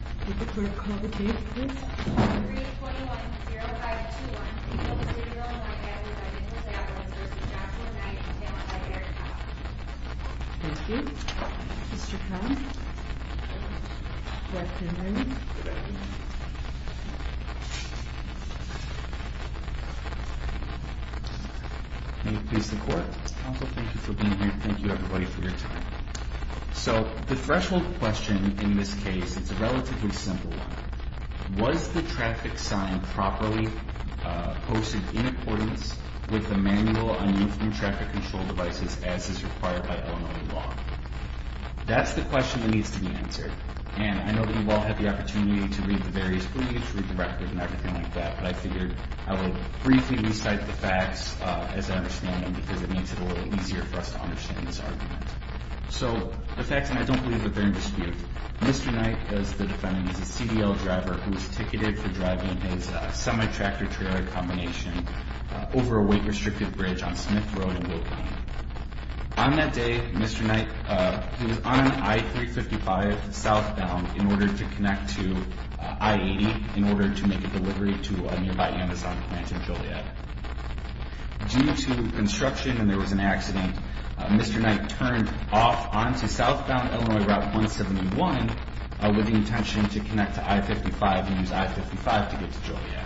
Thank you for being here. Thank you, everybody, for your time. So the threshold question in this case, it's a relative and relatively simple one. Was the traffic sign properly posted in accordance with the manual on uniform traffic control devices as is required by Illinois law? That's the question that needs to be answered. And I know that you all had the opportunity to read the various briefs, read the record and everything like that, but I figured I would briefly recite the facts as I understand them because it makes it a little easier for us to understand this argument. So the facts, and I don't believe that they're in dispute. Mr. Knight is the defendant. He's a CDL driver who was ticketed for driving his semi-tractor-trailer combination over a weight-restrictive bridge on Smith Road in Brooklyn. On that day, Mr. Knight, he was on an I-355 southbound in order to connect to I-80 in order to make a delivery to a nearby Amazon plant in Joliet. Due to construction and there was an accident, Mr. Knight turned off onto southbound Illinois Route 171 with the intention to connect to I-55 and use I-55 to get to Joliet.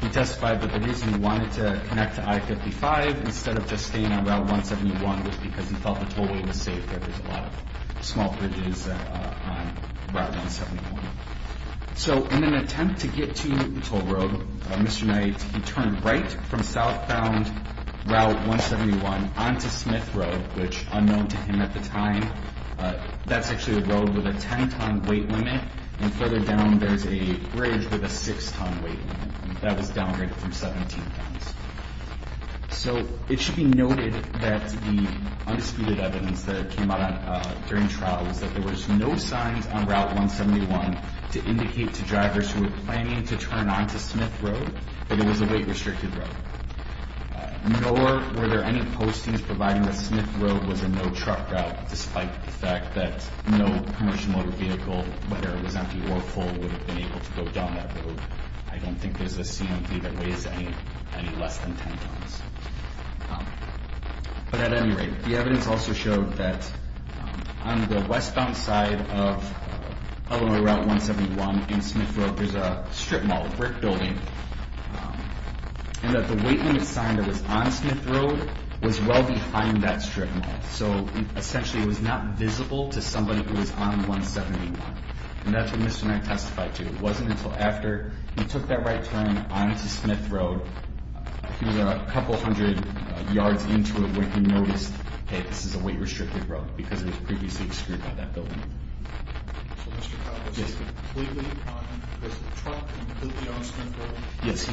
He testified that the reason he wanted to connect to I-55 instead of just staying on Route 171 was because he felt the tollway was safer. There's a lot of small bridges on Route 171. So in an attempt to get to the toll road, Mr. Knight turned right from southbound Route 171 onto Smith Road, which was unknown to him at the time. That's actually a road with a 10-ton weight limit, and further down there's a bridge with a 6-ton weight limit. That was downgraded from 17 tons. So it should be noted that the undisputed evidence that came out during trial was that there was no signs on Route 171 to indicate to drivers who were planning to turn onto Smith Road that it was a weight-restricted road. Nor were there any postings providing that Smith Road was a no-truck route, despite the fact that no commercial motor vehicle, whether it was empty or full, would have been able to go down that road. I don't think there's a CMV that weighs any less than 10 tons. But at any rate, the evidence also showed that on the westbound side of Illinois Route 171 in Smith Road there's a strip mall, a brick building, and that the weight limit sign that was on Smith Road was well behind that strip mall. So essentially it was not visible to somebody who was on Route 171. And that's what Mr. Mack testified to. It wasn't until after he took that right turn onto Smith Road, he was a couple hundred yards into it, when he noticed, hey, this is a weight-restricted road because it was previously excreted by that building. So Mr. Powell was completely on the truck and completely on Smith Road? Yes,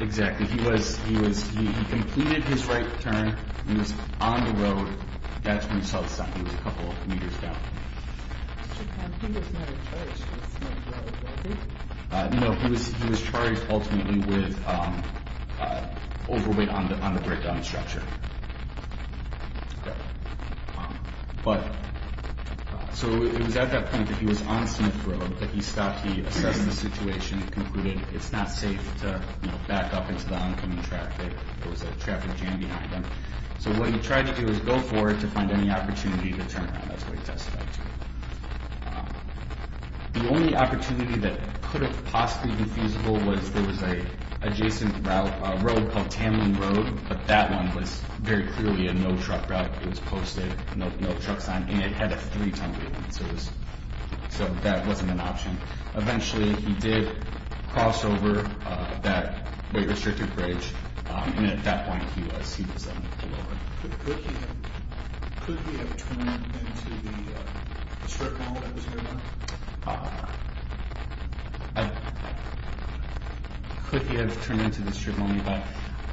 exactly. He completed his right turn. He was on the road. That's when he saw the sign. He was a couple of meters down. Mr. Powell, he was not charged with any liability? No, he was charged ultimately with overweight on the breakdown structure. So it was at that point that he was on Smith Road that he stopped. He assessed the situation and concluded it's not safe to back up into the oncoming traffic. There was a traffic jam behind him. So what he tried to do was go forward to find any opportunity to turn around. That's what he testified to. The only opportunity that could have possibly been feasible was there was an adjacent road called Tamman Road, but that one was very clearly a no-truck route. It was posted, no truck sign, and it had a three-ton weight limit, so that wasn't an option. Eventually, he did cross over that weight-restricted bridge, and at that point, he was on the road. Could he have turned into the strip mall that was there? Could he have turned into the strip mall?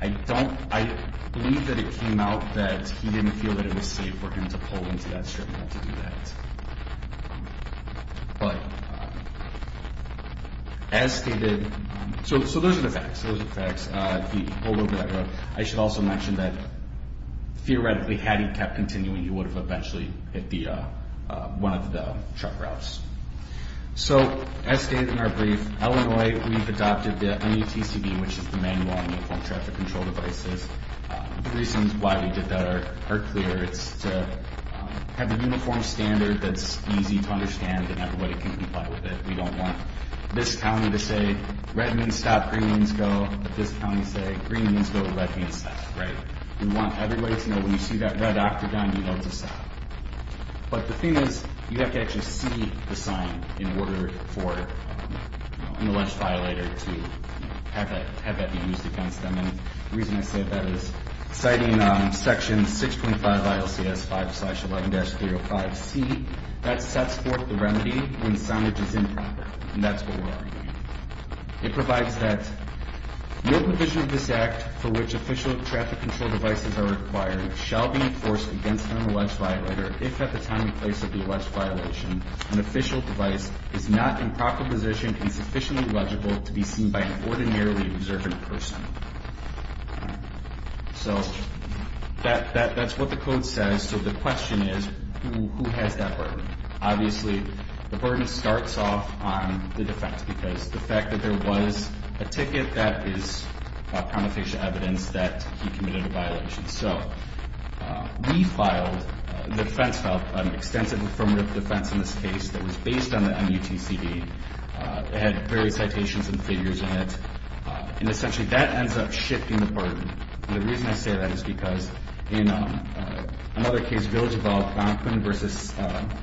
I believe that it came out that he didn't feel that it was safe for him to pull into that strip mall to do that. So those are the facts. I should also mention that theoretically, had he kept continuing, he would have eventually hit one of the truck routes. So, as stated in our brief, Illinois, we've adopted the MUTCD, which is the Manual Uniform Traffic Control Devices. The reasons why we did that are clear. It's to have a uniform standard that's easy to understand and everybody can comply with it. We don't want this county to say, red means stop, green means go, but this county say, green means go, red means stop, right? We want everybody to know when you see that red octagon, you know to stop. But the thing is, you have to actually see the sign in order for an alleged violator to have that be used against them. And the reason I say that is, citing Section 6.5 of ILCS 5-11-305C, that sets forth the remedy when soundage is improper. And that's what we're arguing. It provides that, no provision of this Act for which official traffic control devices are required shall be enforced against an alleged violator if at the time and place of the alleged violation, an official device is not in proper position and sufficiently legible to be seen by an ordinarily observant person. So, that's what the code says. So the question is, who has that burden? Obviously, the burden starts off on the defense, because the fact that there was a ticket that is prontofacial evidence that he committed a violation. So, we filed, the defense filed an extensive affirmative defense in this case that was based on the MUTCD. It had various citations and figures in it. And essentially, that ends up shifting the burden. And the reason I say that is because in another case, Village of Algonquin v.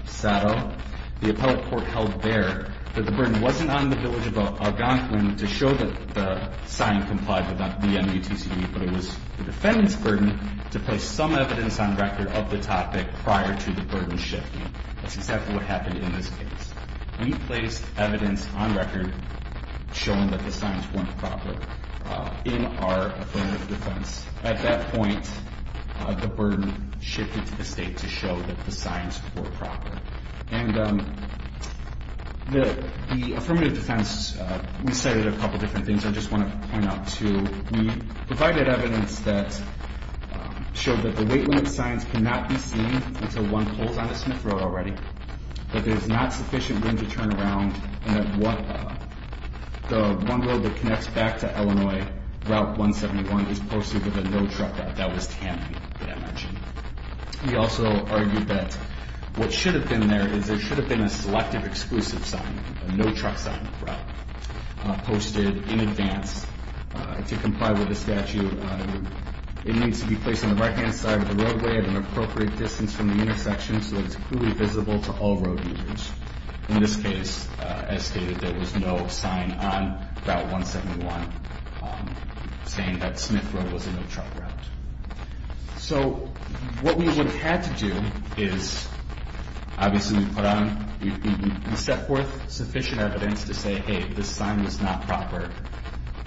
Sado, the appellate court held there that the burden wasn't on the Village of Algonquin to show that the sign complied with the MUTCD, but it was the defendant's burden to place some evidence on record of the topic prior to the burden shifting. That's exactly what happened in this case. We placed evidence on record showing that the signs weren't proper in our affirmative defense. At that point, the burden shifted to the state to show that the signs were proper. And the affirmative defense, we cited a couple different things I just want to point out, too. We provided evidence that showed that the wait limit signs cannot be seen until one pulls on the Smith Road already. That there's not sufficient wind to turn around. And that the one road that connects back to Illinois, Route 171, is posted with a no-truck sign. That was Tammany that I mentioned. We also argued that what should have been there is there should have been a selective exclusive sign, a no-truck sign, posted in advance to comply with the statute. It needs to be placed on the right-hand side of the roadway at an appropriate distance from the intersection so that it's clearly visible to all road users. In this case, as stated, there was no sign on Route 171 saying that Smith Road was a no-truck route. So, what we would have had to do is, obviously, we put on, we set forth sufficient evidence to say, hey, this sign was not proper.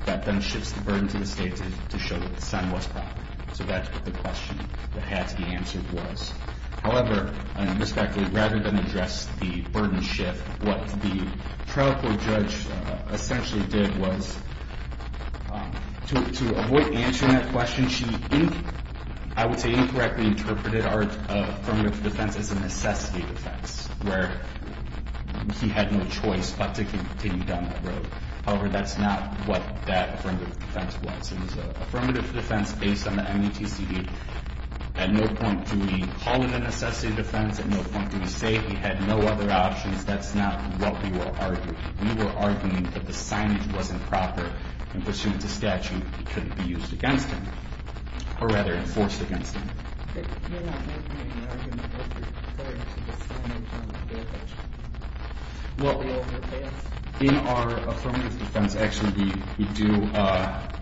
That then shifts the burden to the state to show that the sign was proper. So that's what the question that had to be answered was. However, and respectfully, rather than address the burden shift, what the trial court judge essentially did was to avoid answering that question, she, I would say, incorrectly interpreted our affirmative defense as a necessity defense. Where he had no choice but to continue down that road. However, that's not what that affirmative defense was. It was an affirmative defense based on the MATCD. At no point do we call it a necessity defense. At no point do we say he had no other options. That's not what we were arguing. We were arguing that the signage wasn't proper in pursuit of the statute. It couldn't be used against him, or rather enforced against him. You're not making an argument that you're referring to the signage on the vehicle. In our affirmative defense, actually, we do,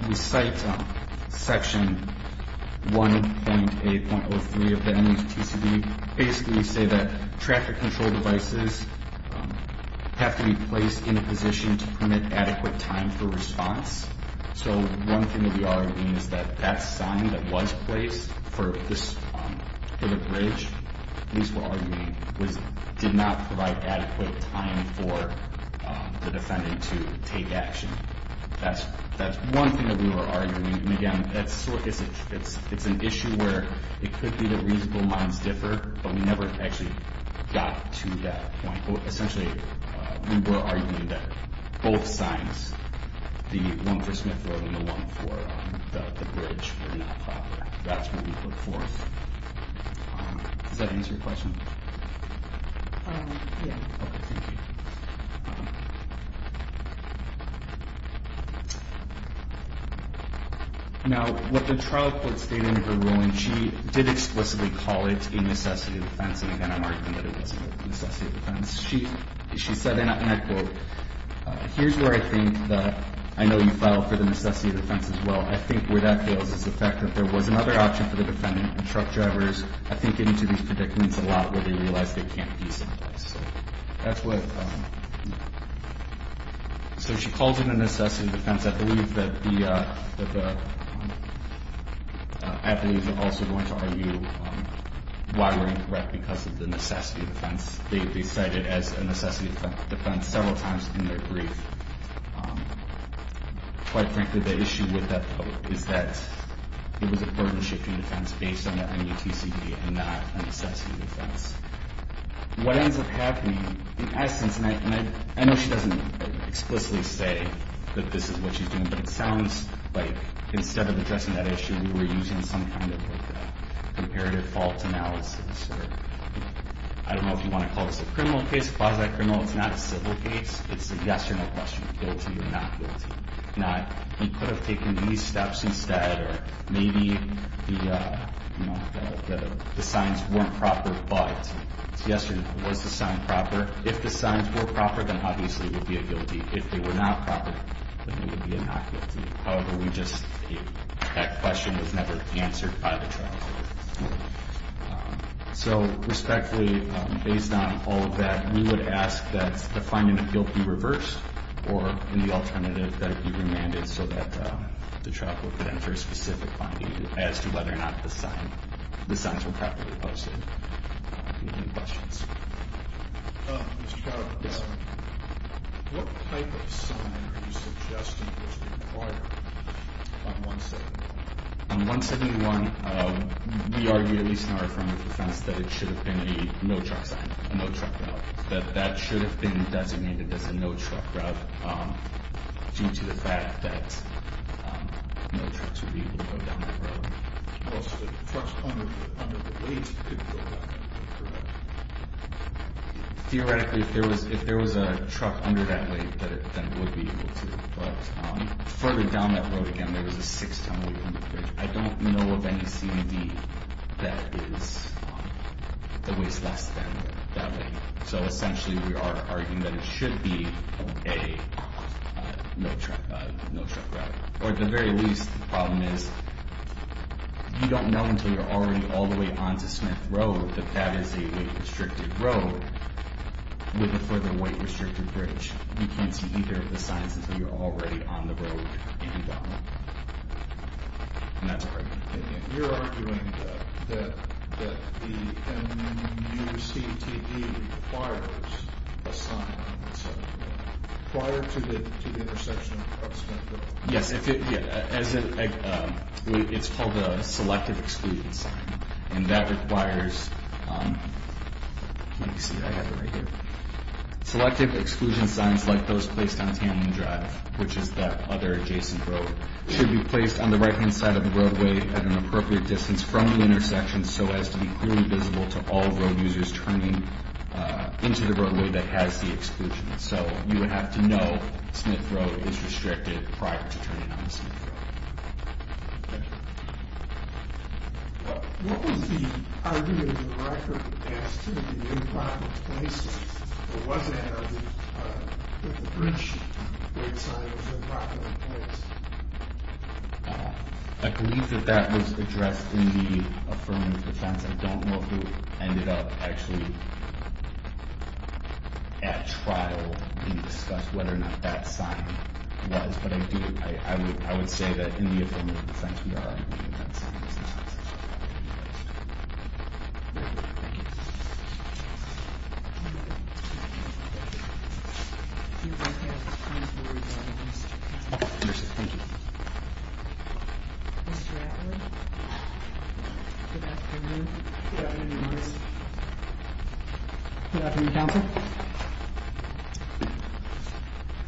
we cite section 1.8.03 of the MATCD. Basically, we say that traffic control devices have to be placed in a position to permit adequate time for response. One thing that we are arguing is that that sign that was placed for the bridge, at least we're arguing, did not provide adequate time for the defendant to take action. That's one thing that we were arguing. Again, it's an issue where it could be that reasonable minds differ, but we never actually got to that point. Essentially, we were arguing that both signs, the one for Smith Road and the one for the bridge, were not proper. That's what we put forth. Does that answer your question? Yeah. Okay, thank you. Now, what the trial court stated in her ruling, she did explicitly call it a necessity defense. Again, I'm arguing that it was a necessity defense. She said, and I quote, Here's where I think that, I know you filed for the necessity defense as well, I think where that fails is the fact that there was another option for the defendant, and truck drivers, I think, get into these predicaments a lot where they realize they can't be someplace. So that's what, so she calls it a necessity defense. I believe that the attorneys are also going to argue why we're incorrect because of the necessity defense. They cite it as a necessity defense several times in their brief. Quite frankly, the issue with that, though, is that it was a burden-shifting defense based on the MUTCD and not a necessity defense. What ends up happening, in essence, and I know she doesn't explicitly say that this is what she's doing, but it sounds like instead of addressing that issue, we were using some kind of comparative fault analysis. I don't know if you want to call this a criminal case, quasi-criminal. It's not a civil case. It's a yes or no question, guilty or not guilty. He could have taken these steps instead, or maybe the signs weren't proper, but it's yes or no. Was the sign proper? If the signs were proper, then obviously it would be a guilty. If they were not proper, then it would be a not guilty. However, we just, that question was never answered by the trial court. So respectfully, based on all of that, we would ask that the finding of guilt be reversed or, in the alternative, that it be remanded so that the trial court could enter a specific finding as to whether or not the signs were properly posted. Any questions? Mr. Carroll, what type of sign are you suggesting was required on 171? On 171, we argue, at least in our affirmative defense, that it should have been a no truck sign, that that should have been designated as a no truck route, due to the fact that no trucks would be able to go down that road. Well, trucks under the weight could go down that road, correct? Theoretically, if there was a truck under that weight, then it would be able to. But further down that road, again, there was a six-ton weight on the bridge. I don't know of any CED that weighs less than that weight. So essentially, we are arguing that it should be a no truck route. Or at the very least, the problem is, you don't know until you're already all the way onto Smith Road that that is a weight-restricted road with a further weight-restricted bridge. You can't see either of the signs until you're already on the road and down. And that's our opinion. You're arguing that the NUCTD requires a sign prior to the intersection of Smith Road. Yes, it's called a selective exclusion sign. And that requires, let me see, I have it right here. Selective exclusion signs like those placed on Tamman Drive, which is that other adjacent road, should be placed on the right-hand side of the roadway at an appropriate distance from the intersection, so as to be clearly visible to all road users turning into the roadway that has the exclusion. So you would have to know Smith Road is restricted prior to turning onto Smith Road. What was the argument of the record as to the impact of placing or was there an argument that the bridge sign was improperly placed? I believe that that was addressed in the affirmative defense. I don't know who ended up actually at trial and discussed whether or not that sign was, but I do, I would say that in the affirmative defense, we are arguing that that sign was improperly placed. Thank you. Thank you. Mr. Atwood. Good afternoon. Good afternoon, Your Honor. Good afternoon, counsel.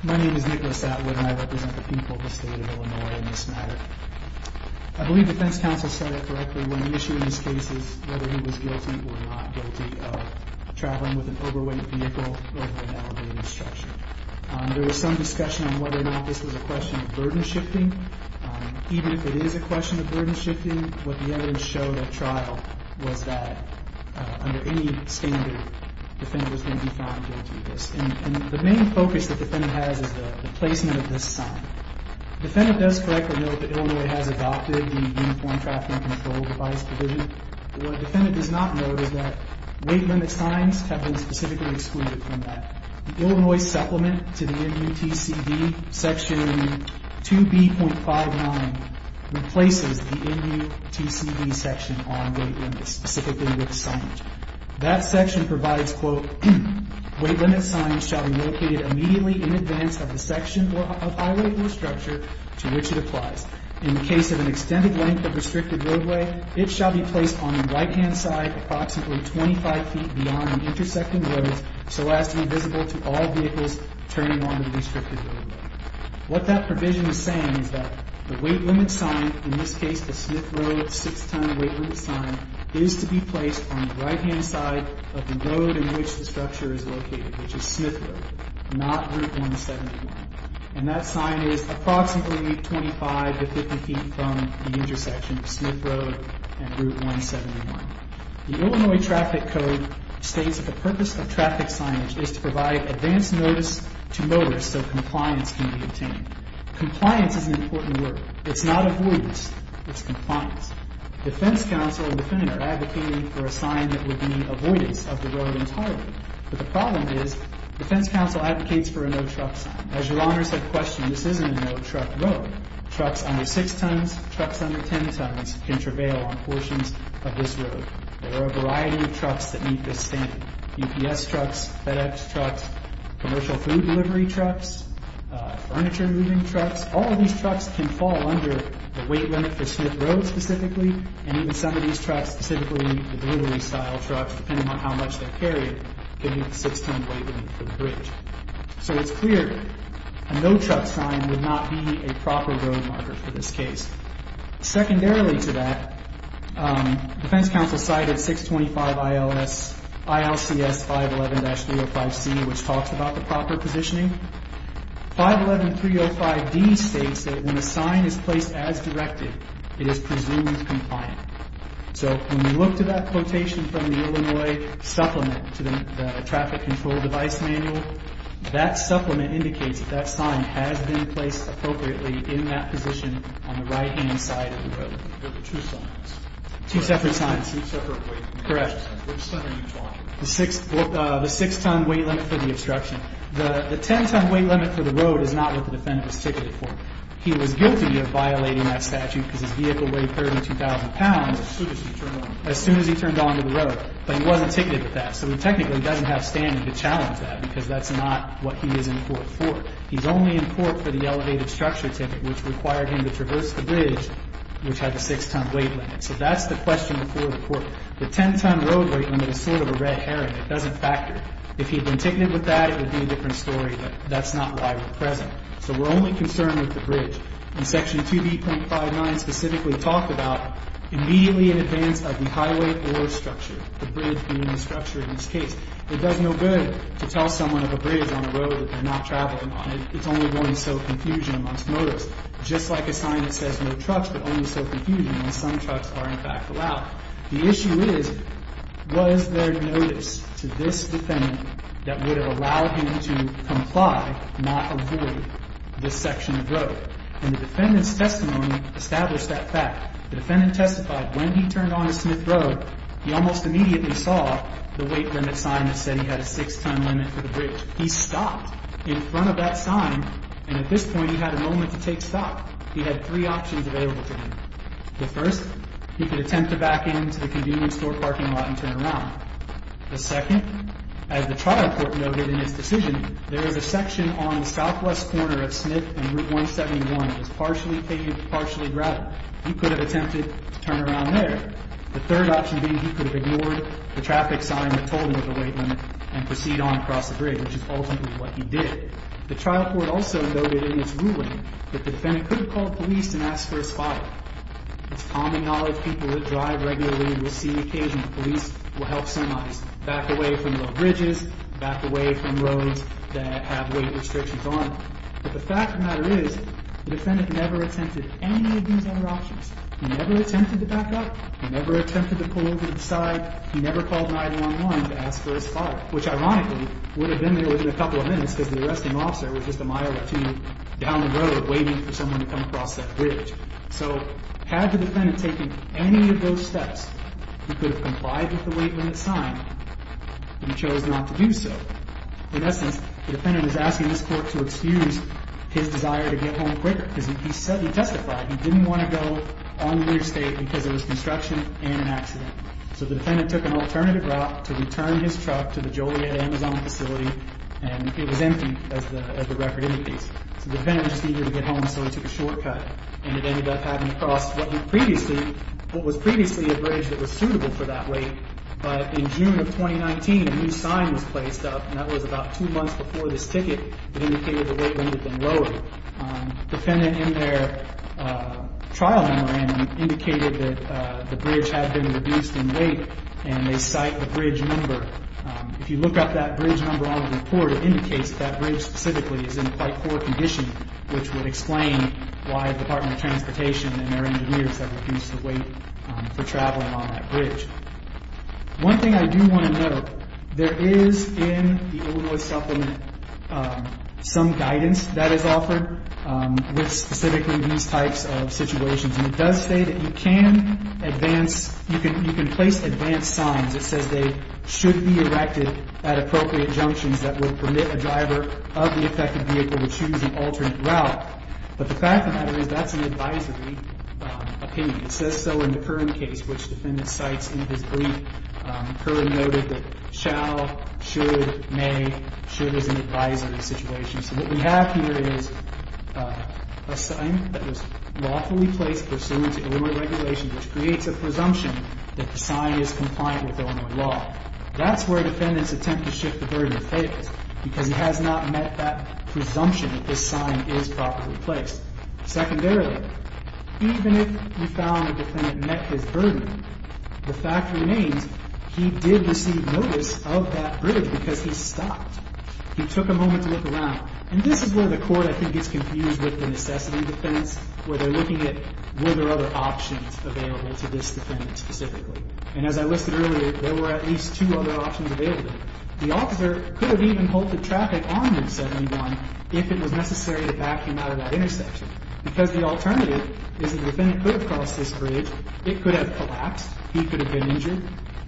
My name is Nicholas Atwood and I represent the people of the state of Illinois in this matter. I believe defense counsel said it correctly when issuing these cases, whether he was guilty or not guilty of traveling with an overweight vehicle over an elevated structure. There was some discussion on whether or not this was a question of burden shifting. Even if it is a question of burden shifting, what the evidence showed at trial was that under any standard, the defendant was going to be found guilty of this. And the main focus that the defendant has is the placement of this sign. The defendant does correctly know that Illinois has adopted the Uniform Traffic Control Device provision. What the defendant does not know is that weight limit signs have been specifically excluded from that. The Illinois supplement to the NUTCD section 2B.59 replaces the NUTCD section on weight limits, specifically with signage. That section provides, quote, weight limit signs shall be located immediately in advance of the section of highway or structure to which it applies. In the case of an extended length of restricted roadway, it shall be placed on the right-hand side approximately 25 feet beyond the intersecting roads so as to be visible to all vehicles turning on the restricted roadway. What that provision is saying is that the weight limit sign, in this case the Smith Road six-ton weight limit sign, is to be placed on the right-hand side of the road in which the structure is located, which is Smith Road, not Route 171. And that sign is approximately 25 to 50 feet from the intersection of Smith Road and Route 171. The Illinois traffic code states that the purpose of traffic signage is to provide advance notice to mowers so compliance can be obtained. Compliance is an important word. It's not avoidance, it's compliance. Defense counsel and the defendant are advocating for a sign that would mean avoidance of the road entirely. But the problem is defense counsel advocates for a no truck sign. As your honors have questioned, this isn't a no truck road. Trucks under six tons, trucks under ten tons can travail on portions of this road. There are a variety of trucks that meet this standard. UPS trucks, FedEx trucks, commercial food delivery trucks, furniture moving trucks. All of these trucks can fall under the weight limit for Smith Road specifically and even some of these trucks, specifically the delivery style trucks, depending on how much they're carrying, can meet the six-ton weight limit for the bridge. So it's clear a no truck sign would not be a proper road marker for this case. Secondarily to that, defense counsel cited 625 ILCS 511-305C which talks about the proper positioning. 511-305D states that when a sign is placed as directed, it is presumed compliant. So when you look to that quotation from the Illinois supplement to the traffic control device manual, that supplement indicates that that sign has been placed appropriately in that position on the right-hand side of the road. There are two signs. Two separate signs. Two separate weight limits. Correct. Which center are you talking about? The six-ton weight limit for the obstruction. The ten-ton weight limit for the road is not what the defendant was ticketed for. He was guilty of violating that statute because his vehicle weighed 32,000 pounds as soon as he turned onto the road, but he wasn't ticketed for that. So he technically doesn't have standing to challenge that because that's not what he is in court for. He's only in court for the elevated structure ticket which required him to traverse the bridge which had the six-ton weight limit. So that's the question before the court. The ten-ton road weight limit is sort of a red herring. It doesn't factor. If he had been ticketed with that, it would be a different story, but that's not why we're present. So we're only concerned with the bridge. And Section 2B.59 specifically talked about immediately in advance of the highway or structure, the bridge being the structure in this case. It does no good to tell someone of a bridge on a road that they're not traveling on. It's only going to sow confusion amongst motorists. Just like a sign that says no trucks, it only sows confusion when some trucks are in fact allowed. The issue is, was there notice to this defendant that would have allowed him to comply, not avoid, this section of road? And the defendant's testimony established that fact. The defendant testified when he turned onto Smith Road, he almost immediately saw the weight limit sign that said he had a six-ton limit for the bridge. He stopped in front of that sign, and at this point he had a moment to take stock. He had three options available to him. The first, he could attempt to back into the convenience store parking lot and turn around. The second, as the trial court noted in its decision, there is a section on the southwest corner of Smith and Route 171 that is partially paved, partially gravel. He could have attempted to turn around there. The third option being he could have ignored the traffic sign that told him of the weight limit and proceed on across the bridge, which is ultimately what he did. The trial court also noted in its ruling that the defendant could have called police and asked for a spotter. It's common knowledge people that drive regularly will see the occasion that police will help semis back away from the bridges, back away from roads that have weight restrictions on them. But the fact of the matter is, the defendant never attempted any of these other options. He never attempted to back up. He never attempted to pull over to the side. He never called 911 to ask for a spotter, which ironically would have been there within a couple of minutes because the arresting officer was just a mile or two down the road waiting for someone to come across that bridge. So had the defendant taken any of those steps, he could have complied with the weight limit sign, but he chose not to do so. In essence, the defendant is asking this court to excuse his desire to get home quicker because he testified he didn't want to go on the interstate because there was construction and an accident. So the defendant took an alternative route to return his truck to the Joliet Amazon facility, and it was empty, as the record indicates. So the defendant just needed to get home, so he took a shortcut. And it ended up having to cross what was previously a bridge that was suitable for that weight. But in June of 2019, a new sign was placed up, and that was about two months before this ticket. It indicated the weight limit had been lowered. The defendant, in their trial memorandum, indicated that the bridge had been reduced in weight, and they cite the bridge number. If you look up that bridge number on the report, it indicates that that bridge specifically is in quite poor condition, which would explain why the Department of Transportation and their engineers have reduced the weight for traveling on that bridge. One thing I do want to note, there is in the Illinois Supplement some guidance. That is offered with specifically these types of situations. And it does say that you can advance, you can place advanced signs. It says they should be erected at appropriate junctions that will permit a driver of the affected vehicle to choose an alternate route. But the fact of the matter is, that's an advisory opinion. It says so in the current case, which the defendant cites in his brief. Currently noted that shall, should, may, should as an advisory situation. So what we have here is a sign that was lawfully placed pursuant to Illinois regulations, which creates a presumption that the sign is compliant with Illinois law. That's where defendants attempt to shift the burden of fate, because it has not met that presumption that this sign is properly placed. Secondarily, even if we found the defendant met his burden, the fact remains he did receive notice of that bridge because he stopped. He took a moment to look around. And this is where the court, I think, gets confused with the necessity defense, where they're looking at were there other options available to this defendant specifically. And as I listed earlier, there were at least two other options available. The officer could have even halted traffic on Route 71 if it was necessary to back him out of that intersection. Because the alternative is that the defendant could have crossed this bridge. It could have collapsed. He could have been injured.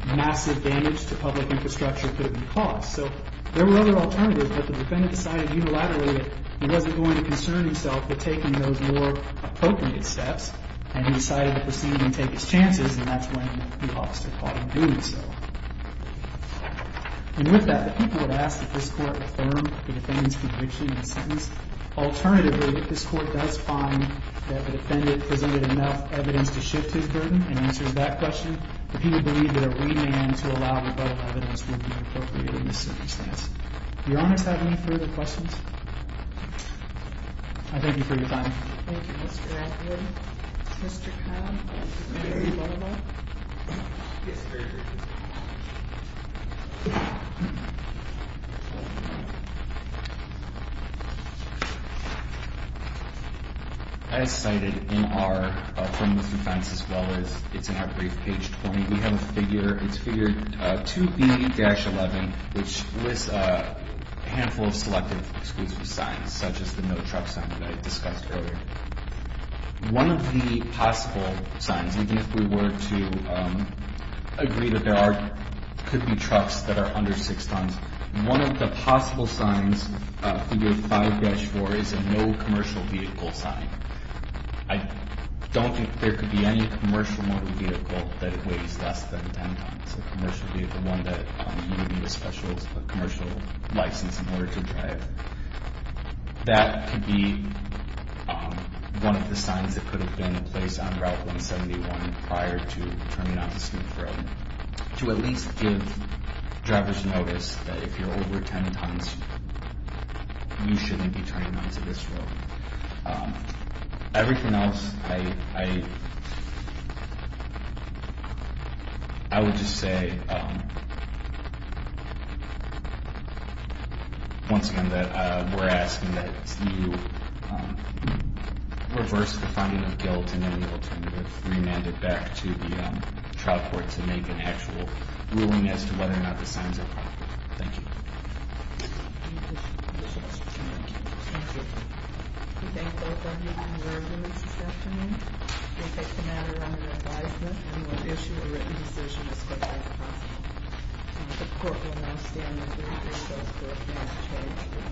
Massive damage to public infrastructure could have been caused. So there were other alternatives, but the defendant decided unilaterally that he wasn't going to concern himself with taking those more appropriate steps, and he decided to proceed and take his chances, and that's when the officer caught him doing so. And with that, the people would ask if this court affirmed the defendant's conviction in the sentence. Alternatively, if this court does find that the defendant presented enough evidence to shift his burden and answers that question, the people believe that a remand to allow rebuttal evidence would be appropriate in this circumstance. Do your honors have any further questions? I thank you for your time. Thank you, Mr. Atwood. Mr. Cobb? Yes, sir. As cited in our criminal defense, as well as it's in our brief, page 20, we have a figure. It's figure 2B-11, which lists a handful of selective exclusive signs, such as the no truck sign that I discussed earlier. One of the possible signs, even if we were to agree that there could be trucks that are under 6 tons, one of the possible signs, figure 5-4, is a no commercial vehicle sign. I don't think there could be any commercial motor vehicle that weighs less than 10 tons, a commercial vehicle, one that you would need a special commercial license in order to drive. That could be one of the signs that could have been in place on Route 171 prior to turning onto Smith Road, to at least give drivers notice that if you're over 10 tons, you shouldn't be turning onto this road. Everything else, I would just say, once again, that we're asking that you reverse the finding of guilt and any alternative, remand it back to the trial court to make an actual ruling as to whether or not the signs are proper. Thank you. Any additional questions? Thank you. I thank both of you for your services this afternoon. I thank the commander and your advisement. We will issue a written decision as quickly as possible. The court will now stand in the jury process for a final judgment.